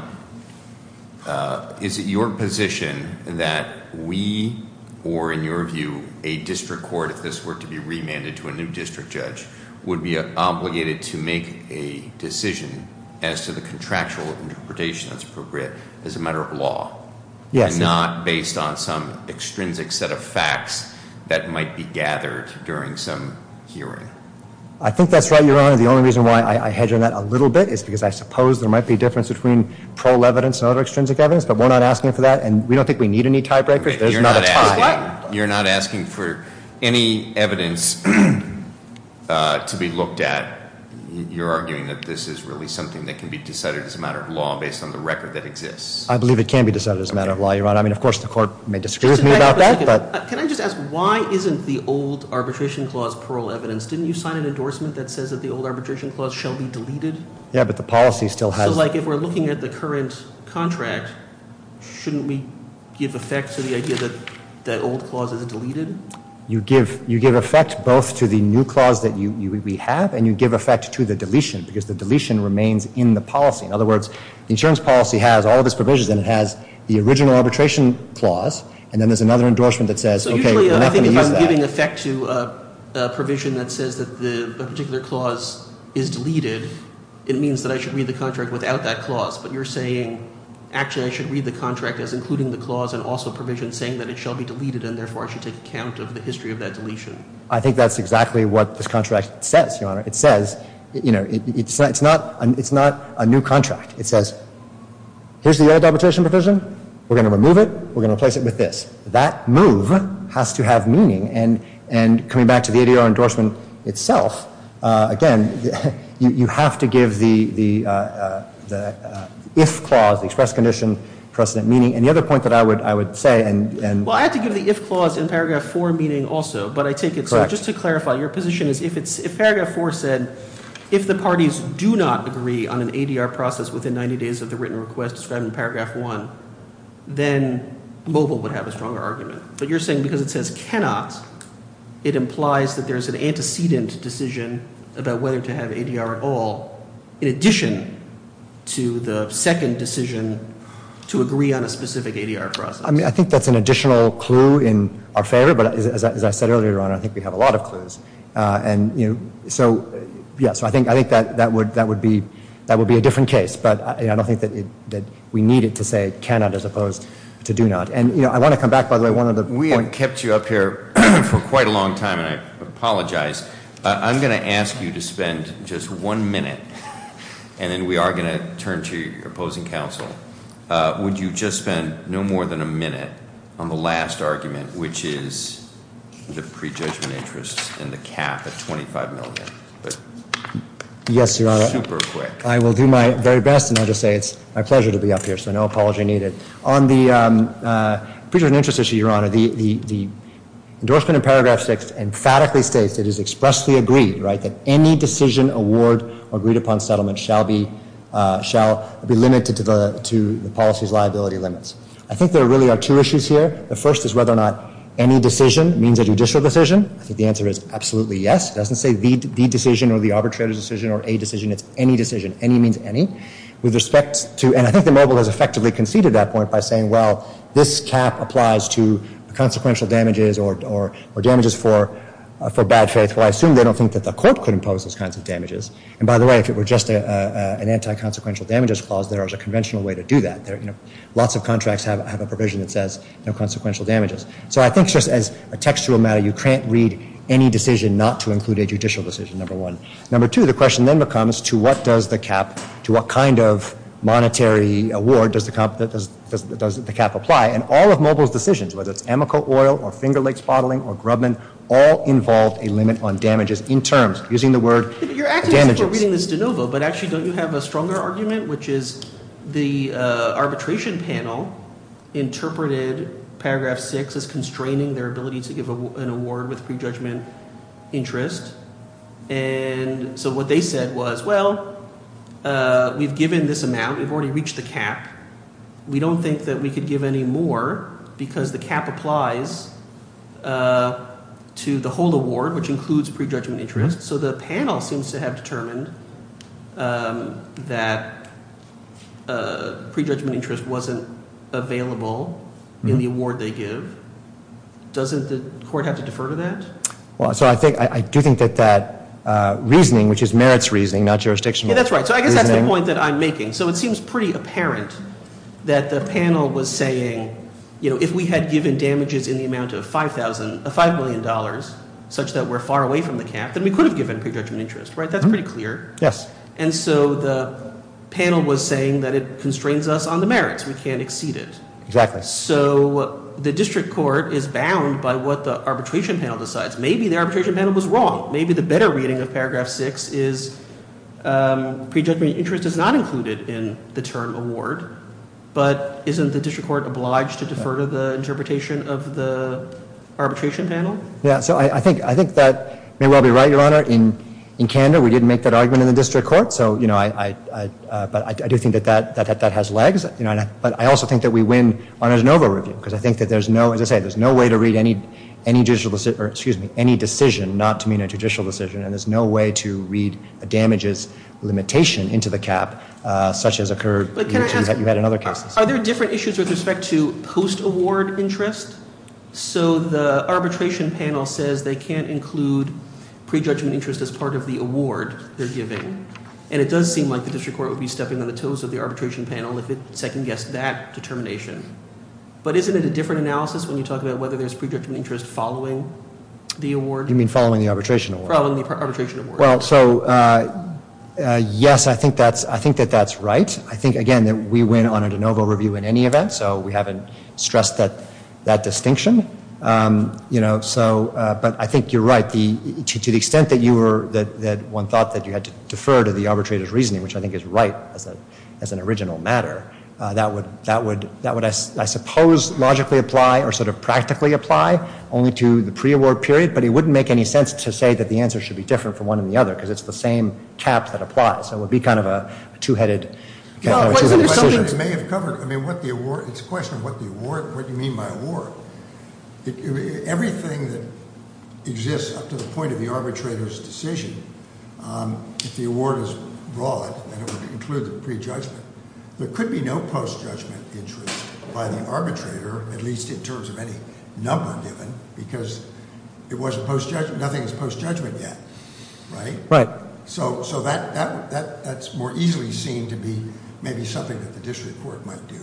is it your position that we, or in your view, a district court, if this were to be remanded to a new district judge, would be obligated to make a decision as to the contractual interpretation that's appropriate as a matter of law? Yes. And not based on some extrinsic set of facts that might be gathered during some hearing? I think that's right, Your Honor. The only reason why I hedge on that a little bit is because I suppose there might be a difference between prole evidence and other extrinsic evidence. But we're not asking for that, and we don't think we need any tie breakers. There's not a tie. You're not asking for any evidence to be looked at. You're arguing that this is really something that can be decided as a matter of law based on the record that exists. I believe it can be decided as a matter of law, Your Honor. I mean, of course, the court may disagree with me about that, but- Can I just ask, why isn't the old arbitration clause prole evidence? Didn't you sign an endorsement that says that the old arbitration clause shall be deleted? Yeah, but the policy still has- So, like, if we're looking at the current contract, shouldn't we give effect to the idea that that old clause is deleted? You give effect both to the new clause that we have, and you give effect to the deletion, because the deletion remains in the policy. In other words, the insurance policy has all of its provisions, and it has the original arbitration clause, and then there's another endorsement that says, okay, we're not going to use that. So, usually, I think if I'm giving effect to a provision that says that a particular clause is deleted, it means that I should read the contract without that clause. But you're saying, actually, I should read the contract as including the clause and also provision saying that it shall be deleted, and therefore, I should take account of the history of that deletion. I think that's exactly what this contract says, Your Honor. It says, you know, it's not a new contract. It says, here's the old arbitration provision. We're going to remove it. We're going to replace it with this. That move has to have meaning, and coming back to the ADR endorsement itself, again, you have to give the if clause, the express condition, precedent meaning. And the other point that I would say, and- Well, I have to give the if clause in Paragraph 4 meaning also, but I take it- Correct. Just to clarify, your position is if Paragraph 4 said, if the parties do not agree on an ADR process within 90 days of the written request described in Paragraph 1, then mobile would have a stronger argument. But you're saying because it says cannot, it implies that there's an antecedent decision about whether to have ADR at all, in addition to the second decision to agree on a specific ADR process. I mean, I think that's an additional clue in our favor, but as I said earlier, Your Honor, I think we have a lot of clues. And, you know, so, yeah, so I think that would be a different case, but I don't think that we need it to say cannot as opposed to do not. And, you know, I want to come back, by the way, one other point- We have kept you up here for quite a long time, and I apologize. I'm going to ask you to spend just one minute, and then we are going to turn to your opposing counsel. Would you just spend no more than a minute on the last argument, which is the prejudgment interest and the cap at 25 million? Yes, Your Honor, I will do my very best, and I'll just say it's my pleasure to be up here, so no apology needed. On the prejudgment interest issue, Your Honor, the endorsement in Paragraph 6 emphatically states, it is expressly agreed, right, that any decision, award, or agreed-upon settlement shall be limited to the policy's liability limits. I think there really are two issues here. The first is whether or not any decision means a judicial decision. I think the answer is absolutely yes. It doesn't say the decision or the arbitrator's decision or a decision. It's any decision. Any means any. With respect to, and I think the mobile has effectively conceded that point by saying, well, this cap applies to consequential damages or damages for bad faith. Well, I assume they don't think that the court could impose those kinds of damages. And by the way, if it were just an anti-consequential damages clause, there is a conventional way to do that. Lots of contracts have a provision that says no consequential damages. So I think just as a textual matter, you can't read any decision not to include a judicial decision, number one. Number two, the question then becomes, to what does the cap, to what kind of monetary award does the cap apply? And all of mobile's decisions, whether it's Amoco Oil or Finger Lakes Bottling or Grubman, all involved a limit on damages in terms, using the word damages. You're actually still reading this de novo, but actually don't you have a stronger argument, which is the arbitration panel interpreted paragraph six as constraining their ability to give an award with prejudgment interest. And so what they said was, well, we've given this amount. We've already reached the cap. We don't think that we could give any more, because the cap applies to the whole award, which includes pre-judgment interest. So the panel seems to have determined that pre-judgment interest wasn't available in the award they give. Doesn't the court have to defer to that? Well, so I do think that that reasoning, which is merits reasoning, not jurisdictional. Yeah, that's right. So I guess that's the point that I'm making. So it seems pretty apparent that the panel was saying, if we had given damages in the amount of $5 million, such that we're far away from the cap, then we could have given pre-judgment interest, right? That's pretty clear. Yes. And so the panel was saying that it constrains us on the merits. We can't exceed it. Exactly. So the district court is bound by what the arbitration panel decides. Maybe the arbitration panel was wrong. Maybe the better reading of paragraph 6 is pre-judgment interest is not included in the term award. But isn't the district court obliged to defer to the interpretation of the arbitration panel? Yeah. So I think that may well be right, Your Honor. In Canada, we didn't make that argument in the district court. So, you know, I do think that that has legs. But I also think that we win on a de novo review, because I think that there's no, as I say, there's no way to read any decision not to mean a judicial decision. And there's no way to read a damages limitation into the cap, such as occurred, you had in other cases. Are there different issues with respect to post-award interest? So the arbitration panel says they can't include pre-judgment interest as part of the award they're giving. And it does seem like the district court would be stepping on the toes of the arbitration panel if it second-guessed that determination. But isn't it a different analysis when you talk about whether there's pre-judgment interest following the award? You mean following the arbitration award? Following the arbitration award. Well, so, yes, I think that that's right. I think, again, that we win on a de novo review in any event. So we haven't stressed that distinction. You know, so, but I think you're right. To the extent that you were, that one thought that you had to defer to the arbitrator's reasoning, which I think is right as an original matter, that would, I suppose, logically apply or sort of practically apply only to the pre-award period. But it wouldn't make any sense to say that the answer should be different from one and the other, because it's the same cap that applies. So it would be kind of a two-headed decision. It's a question of what the award, what do you mean by award? Everything that exists up to the point of the arbitrator's decision, if the award is broad, then it would include the prejudgment. There could be no post-judgment interest by the arbitrator, at least in terms of any number given, because it wasn't post-judgment, nothing is post-judgment yet, right? Right. So that's more easily seen to be maybe something that the district court might do.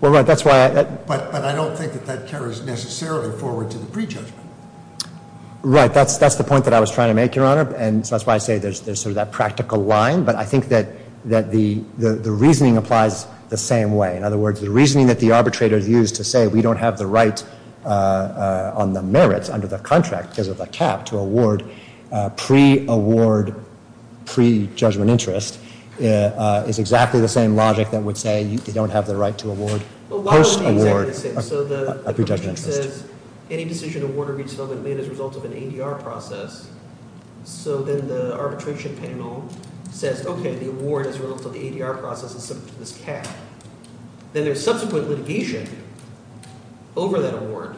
Well, right, that's why I- But I don't think that that carries necessarily forward to the prejudgment. Right, that's the point that I was trying to make, Your Honor, and so that's why I say there's sort of that practical line. But I think that the reasoning applies the same way. In other words, the reasoning that the arbitrator used to say we don't have the right on the merits under the contract, because of the cap, to award pre-award, pre-judgment interest, is exactly the same logic that would say you don't have the right to award post-award prejudgment interest. Right, so it says, any decision awarded or retold is made as a result of an ADR process. So then the arbitration panel says, okay, the award is relative to the ADR process, it's subject to this cap. Then there's subsequent litigation over that award,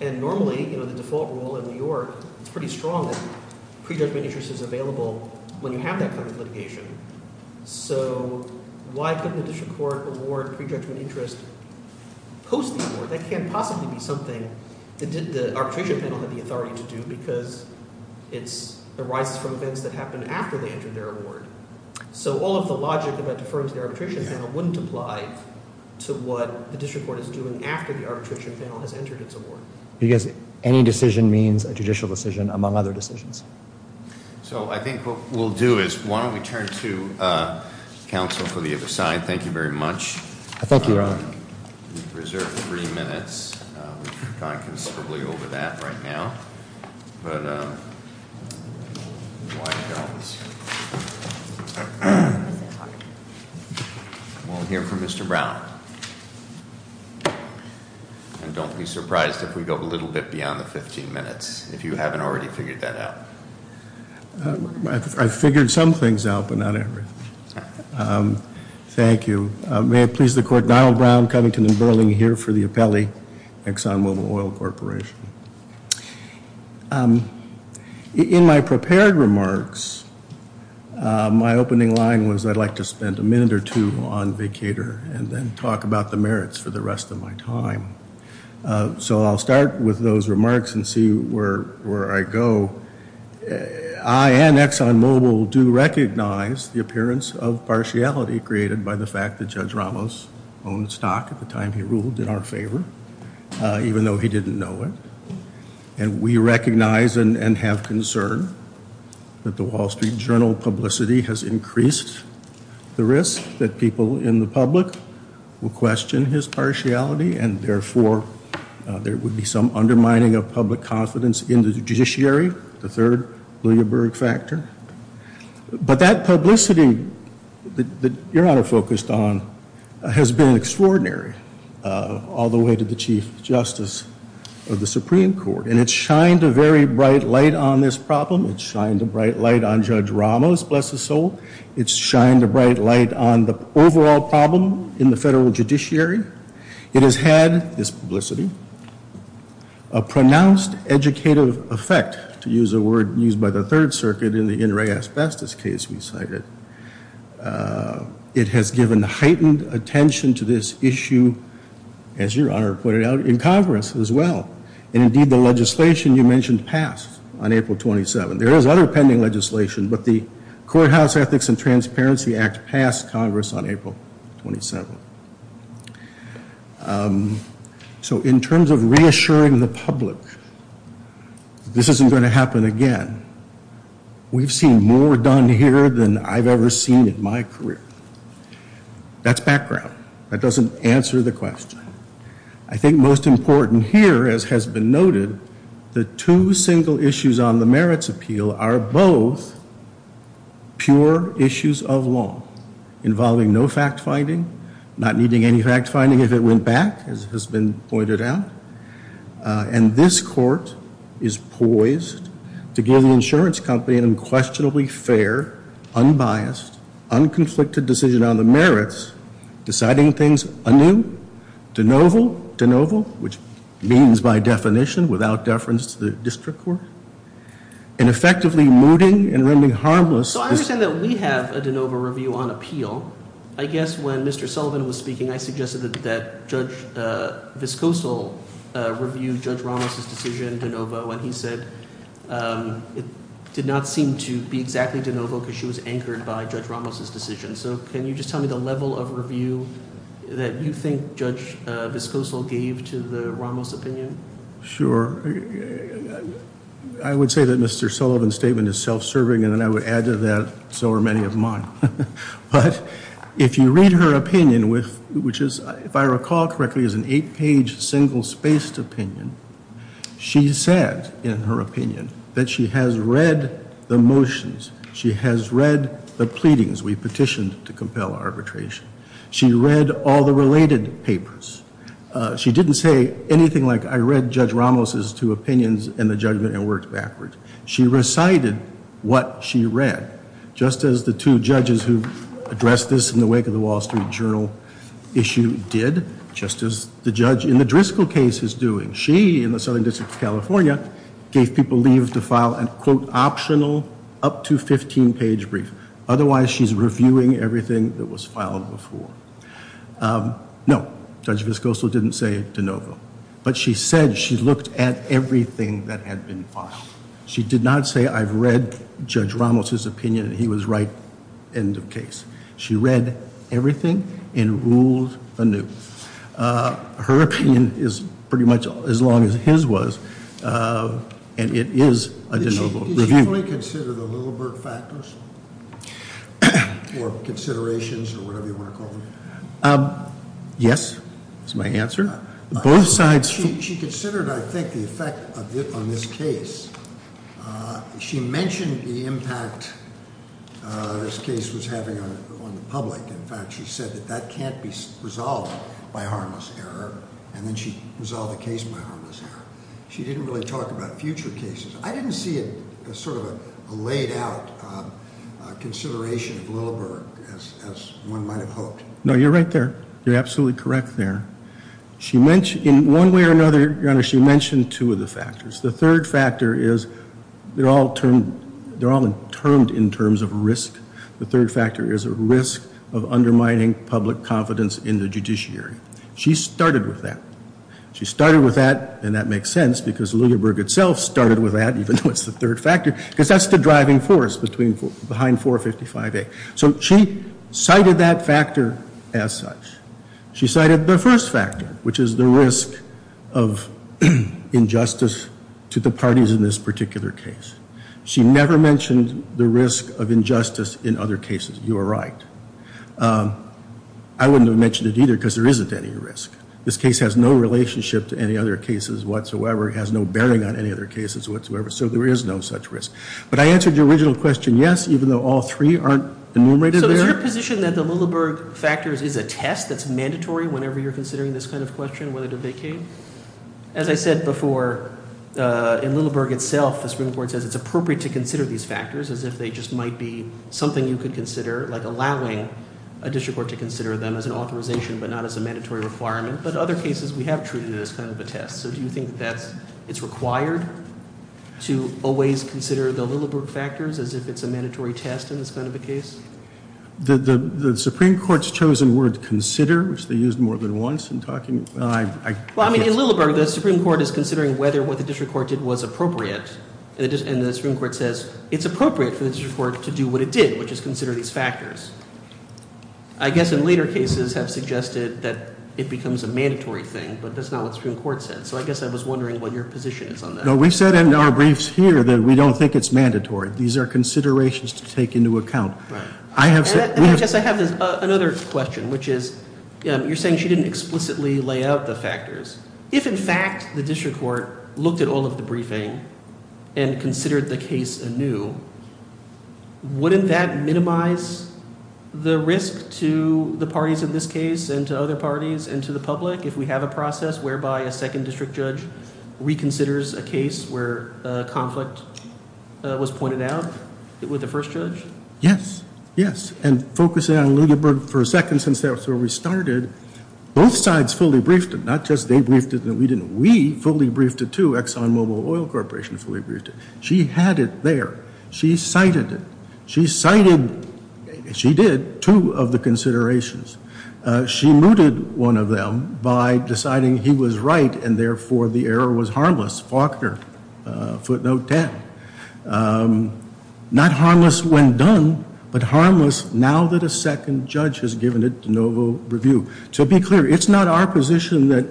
and normally, you know, the default rule in New York is pretty strong that prejudgment interest is available when you have that kind of litigation. So why couldn't the district court award prejudgment interest post-award? That can't possibly be something that the arbitration panel had the authority to do, because it arises from events that happened after they entered their award. So all of the logic about deferring to the arbitration panel wouldn't apply to what the district court is doing after the arbitration panel has entered its award. Because any decision means a judicial decision, among other decisions. So I think what we'll do is, why don't we turn to counsel for the other side. Thank you very much. I thank you, Your Honor. We've reserved three minutes. We've gone considerably over that right now. But why don't we hear from Mr. Brown, and don't be surprised if we go a little bit beyond the 15 minutes. If you haven't already figured that out. I've figured some things out, but not everything. Thank you. May it please the court, Donald Brown, Covington & Burling here for the appellee, Exxon Mobil Oil Corporation. In my prepared remarks, my opening line was I'd like to spend a minute or two on vacater, and then talk about the merits for the rest of my time. So I'll start with those remarks and see where I go. I and Exxon Mobil do recognize the appearance of partiality created by the fact that Judge Ramos owned stock at the time he ruled in our favor, even though he didn't know it. And we recognize and have concern that the Wall Street Journal publicity has increased the risk that people in the public will question his partiality, and therefore there would be some undermining of public confidence in the judiciary, the third Bloomberg factor. But that publicity that your honor focused on has been extraordinary. All the way to the Chief Justice of the Supreme Court. And it's shined a very bright light on this problem. It's shined a bright light on Judge Ramos, bless his soul. It's shined a bright light on the overall problem in the federal judiciary. It has had, this publicity, a pronounced educative effect, to use a word used by the Third Circuit in the In Re Asbestos case we cited. It has given heightened attention to this issue, as your honor pointed out, in Congress as well. And indeed the legislation you mentioned passed on April 27th. There is other pending legislation, but the Courthouse Ethics and Transparency Act passed Congress on April 27th. So in terms of reassuring the public, this isn't going to happen again. We've seen more done here than I've ever seen in my career. That's background. That doesn't answer the question. I think most important here, as has been noted, the two single issues on the merits appeal are both pure issues of law. Involving no fact finding, not needing any fact finding if it went back, as has been pointed out. And this court is poised to give the insurance company an unquestionably fair, unbiased, unconflicted decision on the merits, deciding things anew, de novo, de novo, which means by definition, without deference to the district court, and effectively mooting and rendering harmless. So I understand that we have a de novo review on appeal. I guess when Mr. Sullivan was speaking, I suggested that Judge Viscoso reviewed Judge Ramos' decision, de novo. And he said it did not seem to be exactly de novo because she was anchored by Judge Ramos' decision. So can you just tell me the level of review that you think Judge Viscoso gave to the Ramos' opinion? Sure, I would say that Mr. Sullivan's statement is self-serving, and I would add to that, so are many of mine. But if you read her opinion, which is, if I recall correctly, is an eight-page, single-spaced opinion. She said, in her opinion, that she has read the motions, she has read the pleadings we petitioned to compel arbitration, she read all the related papers. She didn't say anything like, I read Judge Ramos' two opinions in the judgment and worked backwards. She recited what she read, just as the two judges who addressed this in the wake of the Wall Street Journal issue did. Just as the judge in the Driscoll case is doing. She, in the Southern District of California, gave people leave to file an, quote, optional, up to 15-page brief. Otherwise, she's reviewing everything that was filed before. No, Judge Viscoso didn't say de novo. But she said she looked at everything that had been filed. She did not say, I've read Judge Ramos' opinion, and he was right, end of case. She read everything and ruled anew. Her opinion is pretty much as long as his was, and it is a de novo review. Did she fully consider the Lillbert factors? Or considerations, or whatever you want to call them? Yes, is my answer. Both sides- She considered, I think, the effect of it on this case. She mentioned the impact this case was having on the public. In fact, she said that that can't be resolved by harmless error, and then she resolved the case by harmless error. She didn't really talk about future cases. I didn't see it as sort of a laid out consideration of Lillbert, as one might have hoped. No, you're right there. You're absolutely correct there. In one way or another, your honor, she mentioned two of the factors. The third factor is, they're all termed in terms of risk. The third factor is a risk of undermining public confidence in the judiciary. She started with that. She started with that, and that makes sense, because Lillbert itself started with that, even though it's the third factor, because that's the driving force behind 455A. So she cited that factor as such. She cited the first factor, which is the risk of injustice to the parties in this particular case. She never mentioned the risk of injustice in other cases. You are right. I wouldn't have mentioned it either, because there isn't any risk. This case has no relationship to any other cases whatsoever. It has no bearing on any other cases whatsoever, so there is no such risk. But I answered your original question, yes, even though all three aren't enumerated there. So is your position that the Lillbert factors is a test that's mandatory whenever you're considering this kind of question, whether to vacate? As I said before, in Lillbert itself, the Supreme Court says it's appropriate to consider these factors as if they just might be something you could consider, like allowing a district court to consider them as an authorization, but not as a mandatory requirement. But other cases, we have treated it as kind of a test. So do you think that it's required to always consider the Lillbert factors as if it's a mandatory test in this kind of a case? The Supreme Court's chosen word, consider, which they used more than once in talking. Well, I mean, in Lillbert, the Supreme Court is considering whether what the district court did was appropriate. And the Supreme Court says it's appropriate for the district court to do what it did, which is consider these factors. I guess in later cases have suggested that it becomes a mandatory thing, but that's not what the Supreme Court said. So I guess I was wondering what your position is on that. No, we've said in our briefs here that we don't think it's mandatory. These are considerations to take into account. I have- And I guess I have another question, which is, you're saying she didn't explicitly lay out the factors. If in fact the district court looked at all of the briefing and considered the case anew, wouldn't that minimize the risk to the parties in this case and to other parties and to the public if we have a process whereby a second district judge reconsiders a case where a conflict was pointed out with the first judge? Yes, yes. And focusing on Lillbert for a second since that's where we started, both sides fully briefed it. Not just they briefed it and we didn't. We fully briefed it, too. Exxon Mobil Oil Corporation fully briefed it. She had it there. She cited it. She cited, she did, two of the considerations. She mooted one of them by deciding he was right and therefore the error was harmless. Faulkner, footnote 10. Not harmless when done, but harmless now that a second judge has given it de novo review. To be clear, it's not our position that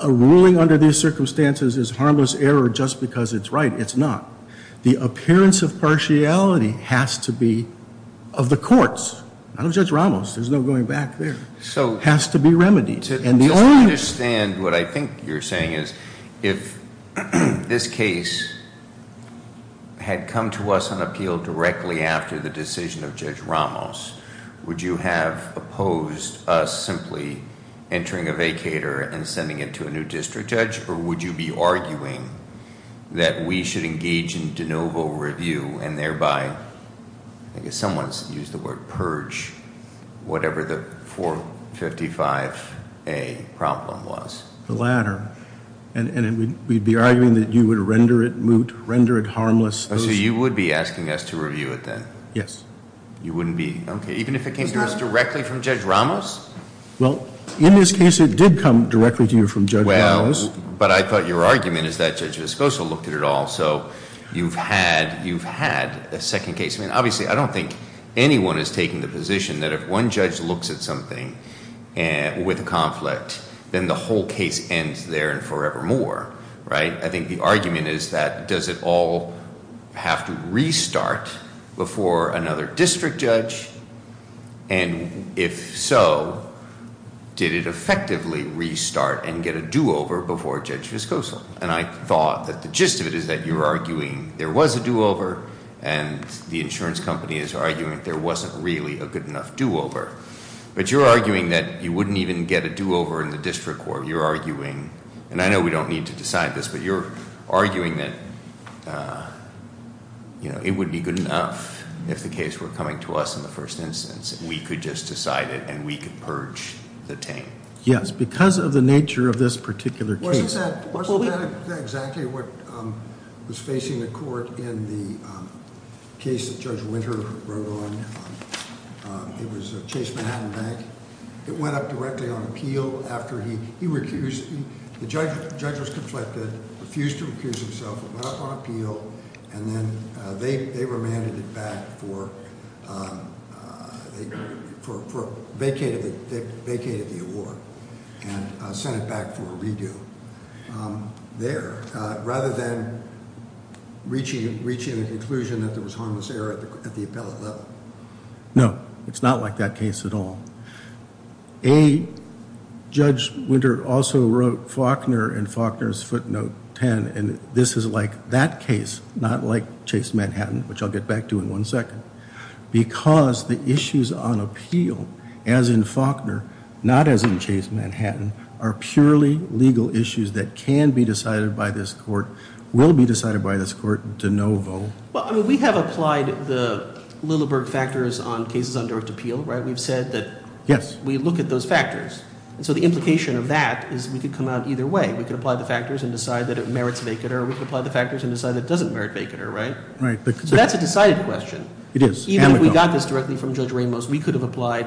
a ruling under these circumstances is harmless error just because it's right. It's not. The appearance of partiality has to be of the courts, not of Judge Ramos. There's no going back there. It has to be remedied. And the only- I don't understand what I think you're saying is if this case had come to us on appeal directly after the decision of Judge Ramos, would you have opposed us simply entering a vacator and sending it to a new district judge? Or would you be arguing that we should engage in de novo review and whatever the 455A problem was? The latter. And we'd be arguing that you would render it moot, render it harmless. So you would be asking us to review it then? Yes. You wouldn't be, okay, even if it came to us directly from Judge Ramos? Well, in this case it did come directly to you from Judge Ramos. But I thought your argument is that Judge Escoso looked at it all, so you've had a second case. I mean, obviously, I don't think anyone is taking the position that if one judge looks at something with a conflict, then the whole case ends there and forevermore, right? I think the argument is that does it all have to restart before another district judge? And if so, did it effectively restart and get a do-over before Judge Escoso? And I thought that the gist of it is that you're arguing there was a do-over and the insurance company is arguing there wasn't really a good enough do-over. But you're arguing that you wouldn't even get a do-over in the district court. You're arguing, and I know we don't need to decide this, but you're arguing that it wouldn't be good enough if the case were coming to us in the first instance. We could just decide it and we could purge the team. Yes, because of the nature of this particular case. Wasn't that exactly what was facing the court in the case that Judge Winter wrote on? It was Chase Manhattan Bank. It went up directly on appeal after he recused, the judge was conflicted, refused to recuse himself, went up on appeal, and then they remanded it back for, they vacated the award and sent it back for a redo. There, rather than reaching a conclusion that there was harmless error at the appellate level. No, it's not like that case at all. A, Judge Winter also wrote Faulkner in Faulkner's footnote ten, and this is like that case, not like Chase Manhattan, which I'll get back to in one second. Because the issues on appeal, as in Faulkner, not as in Chase Manhattan, are purely legal issues that can be decided by this court, will be decided by this court to no vote. Well, I mean, we have applied the Lilleberg factors on cases on direct appeal, right? We've said that- Yes. We look at those factors. And so the implication of that is we could come out either way. We could apply the factors and decide that it merits vacater, or we could apply the factors and decide that it doesn't merit vacater, right? Right. So that's a decided question. It is. Even if we got this directly from Judge Ramos, we could have applied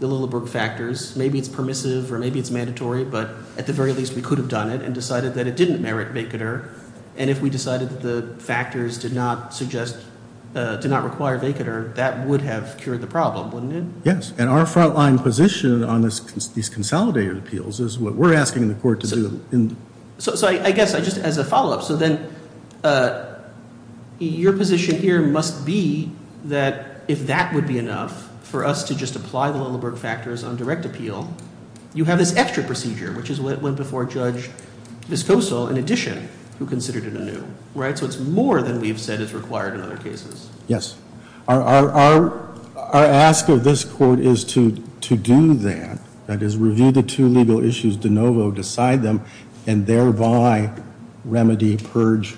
the Lilleberg factors. Maybe it's permissive, or maybe it's mandatory, but at the very least we could have done it and decided that it didn't merit vacater. And if we decided that the factors did not require vacater, that would have cured the problem, wouldn't it? Yes. And our front line position on these consolidated appeals is what we're asking the court to do. So I guess, just as a follow up, so then your position here must be that if that would be enough for us to just apply the Lilleberg factors on direct appeal, you have this extra procedure, which is what went before Judge Viscoso, in addition, who considered it anew, right? So it's more than we've said is required in other cases. Yes. Our ask of this court is to do that, that is, review the two legal issues de novo, decide them, and thereby remedy, purge.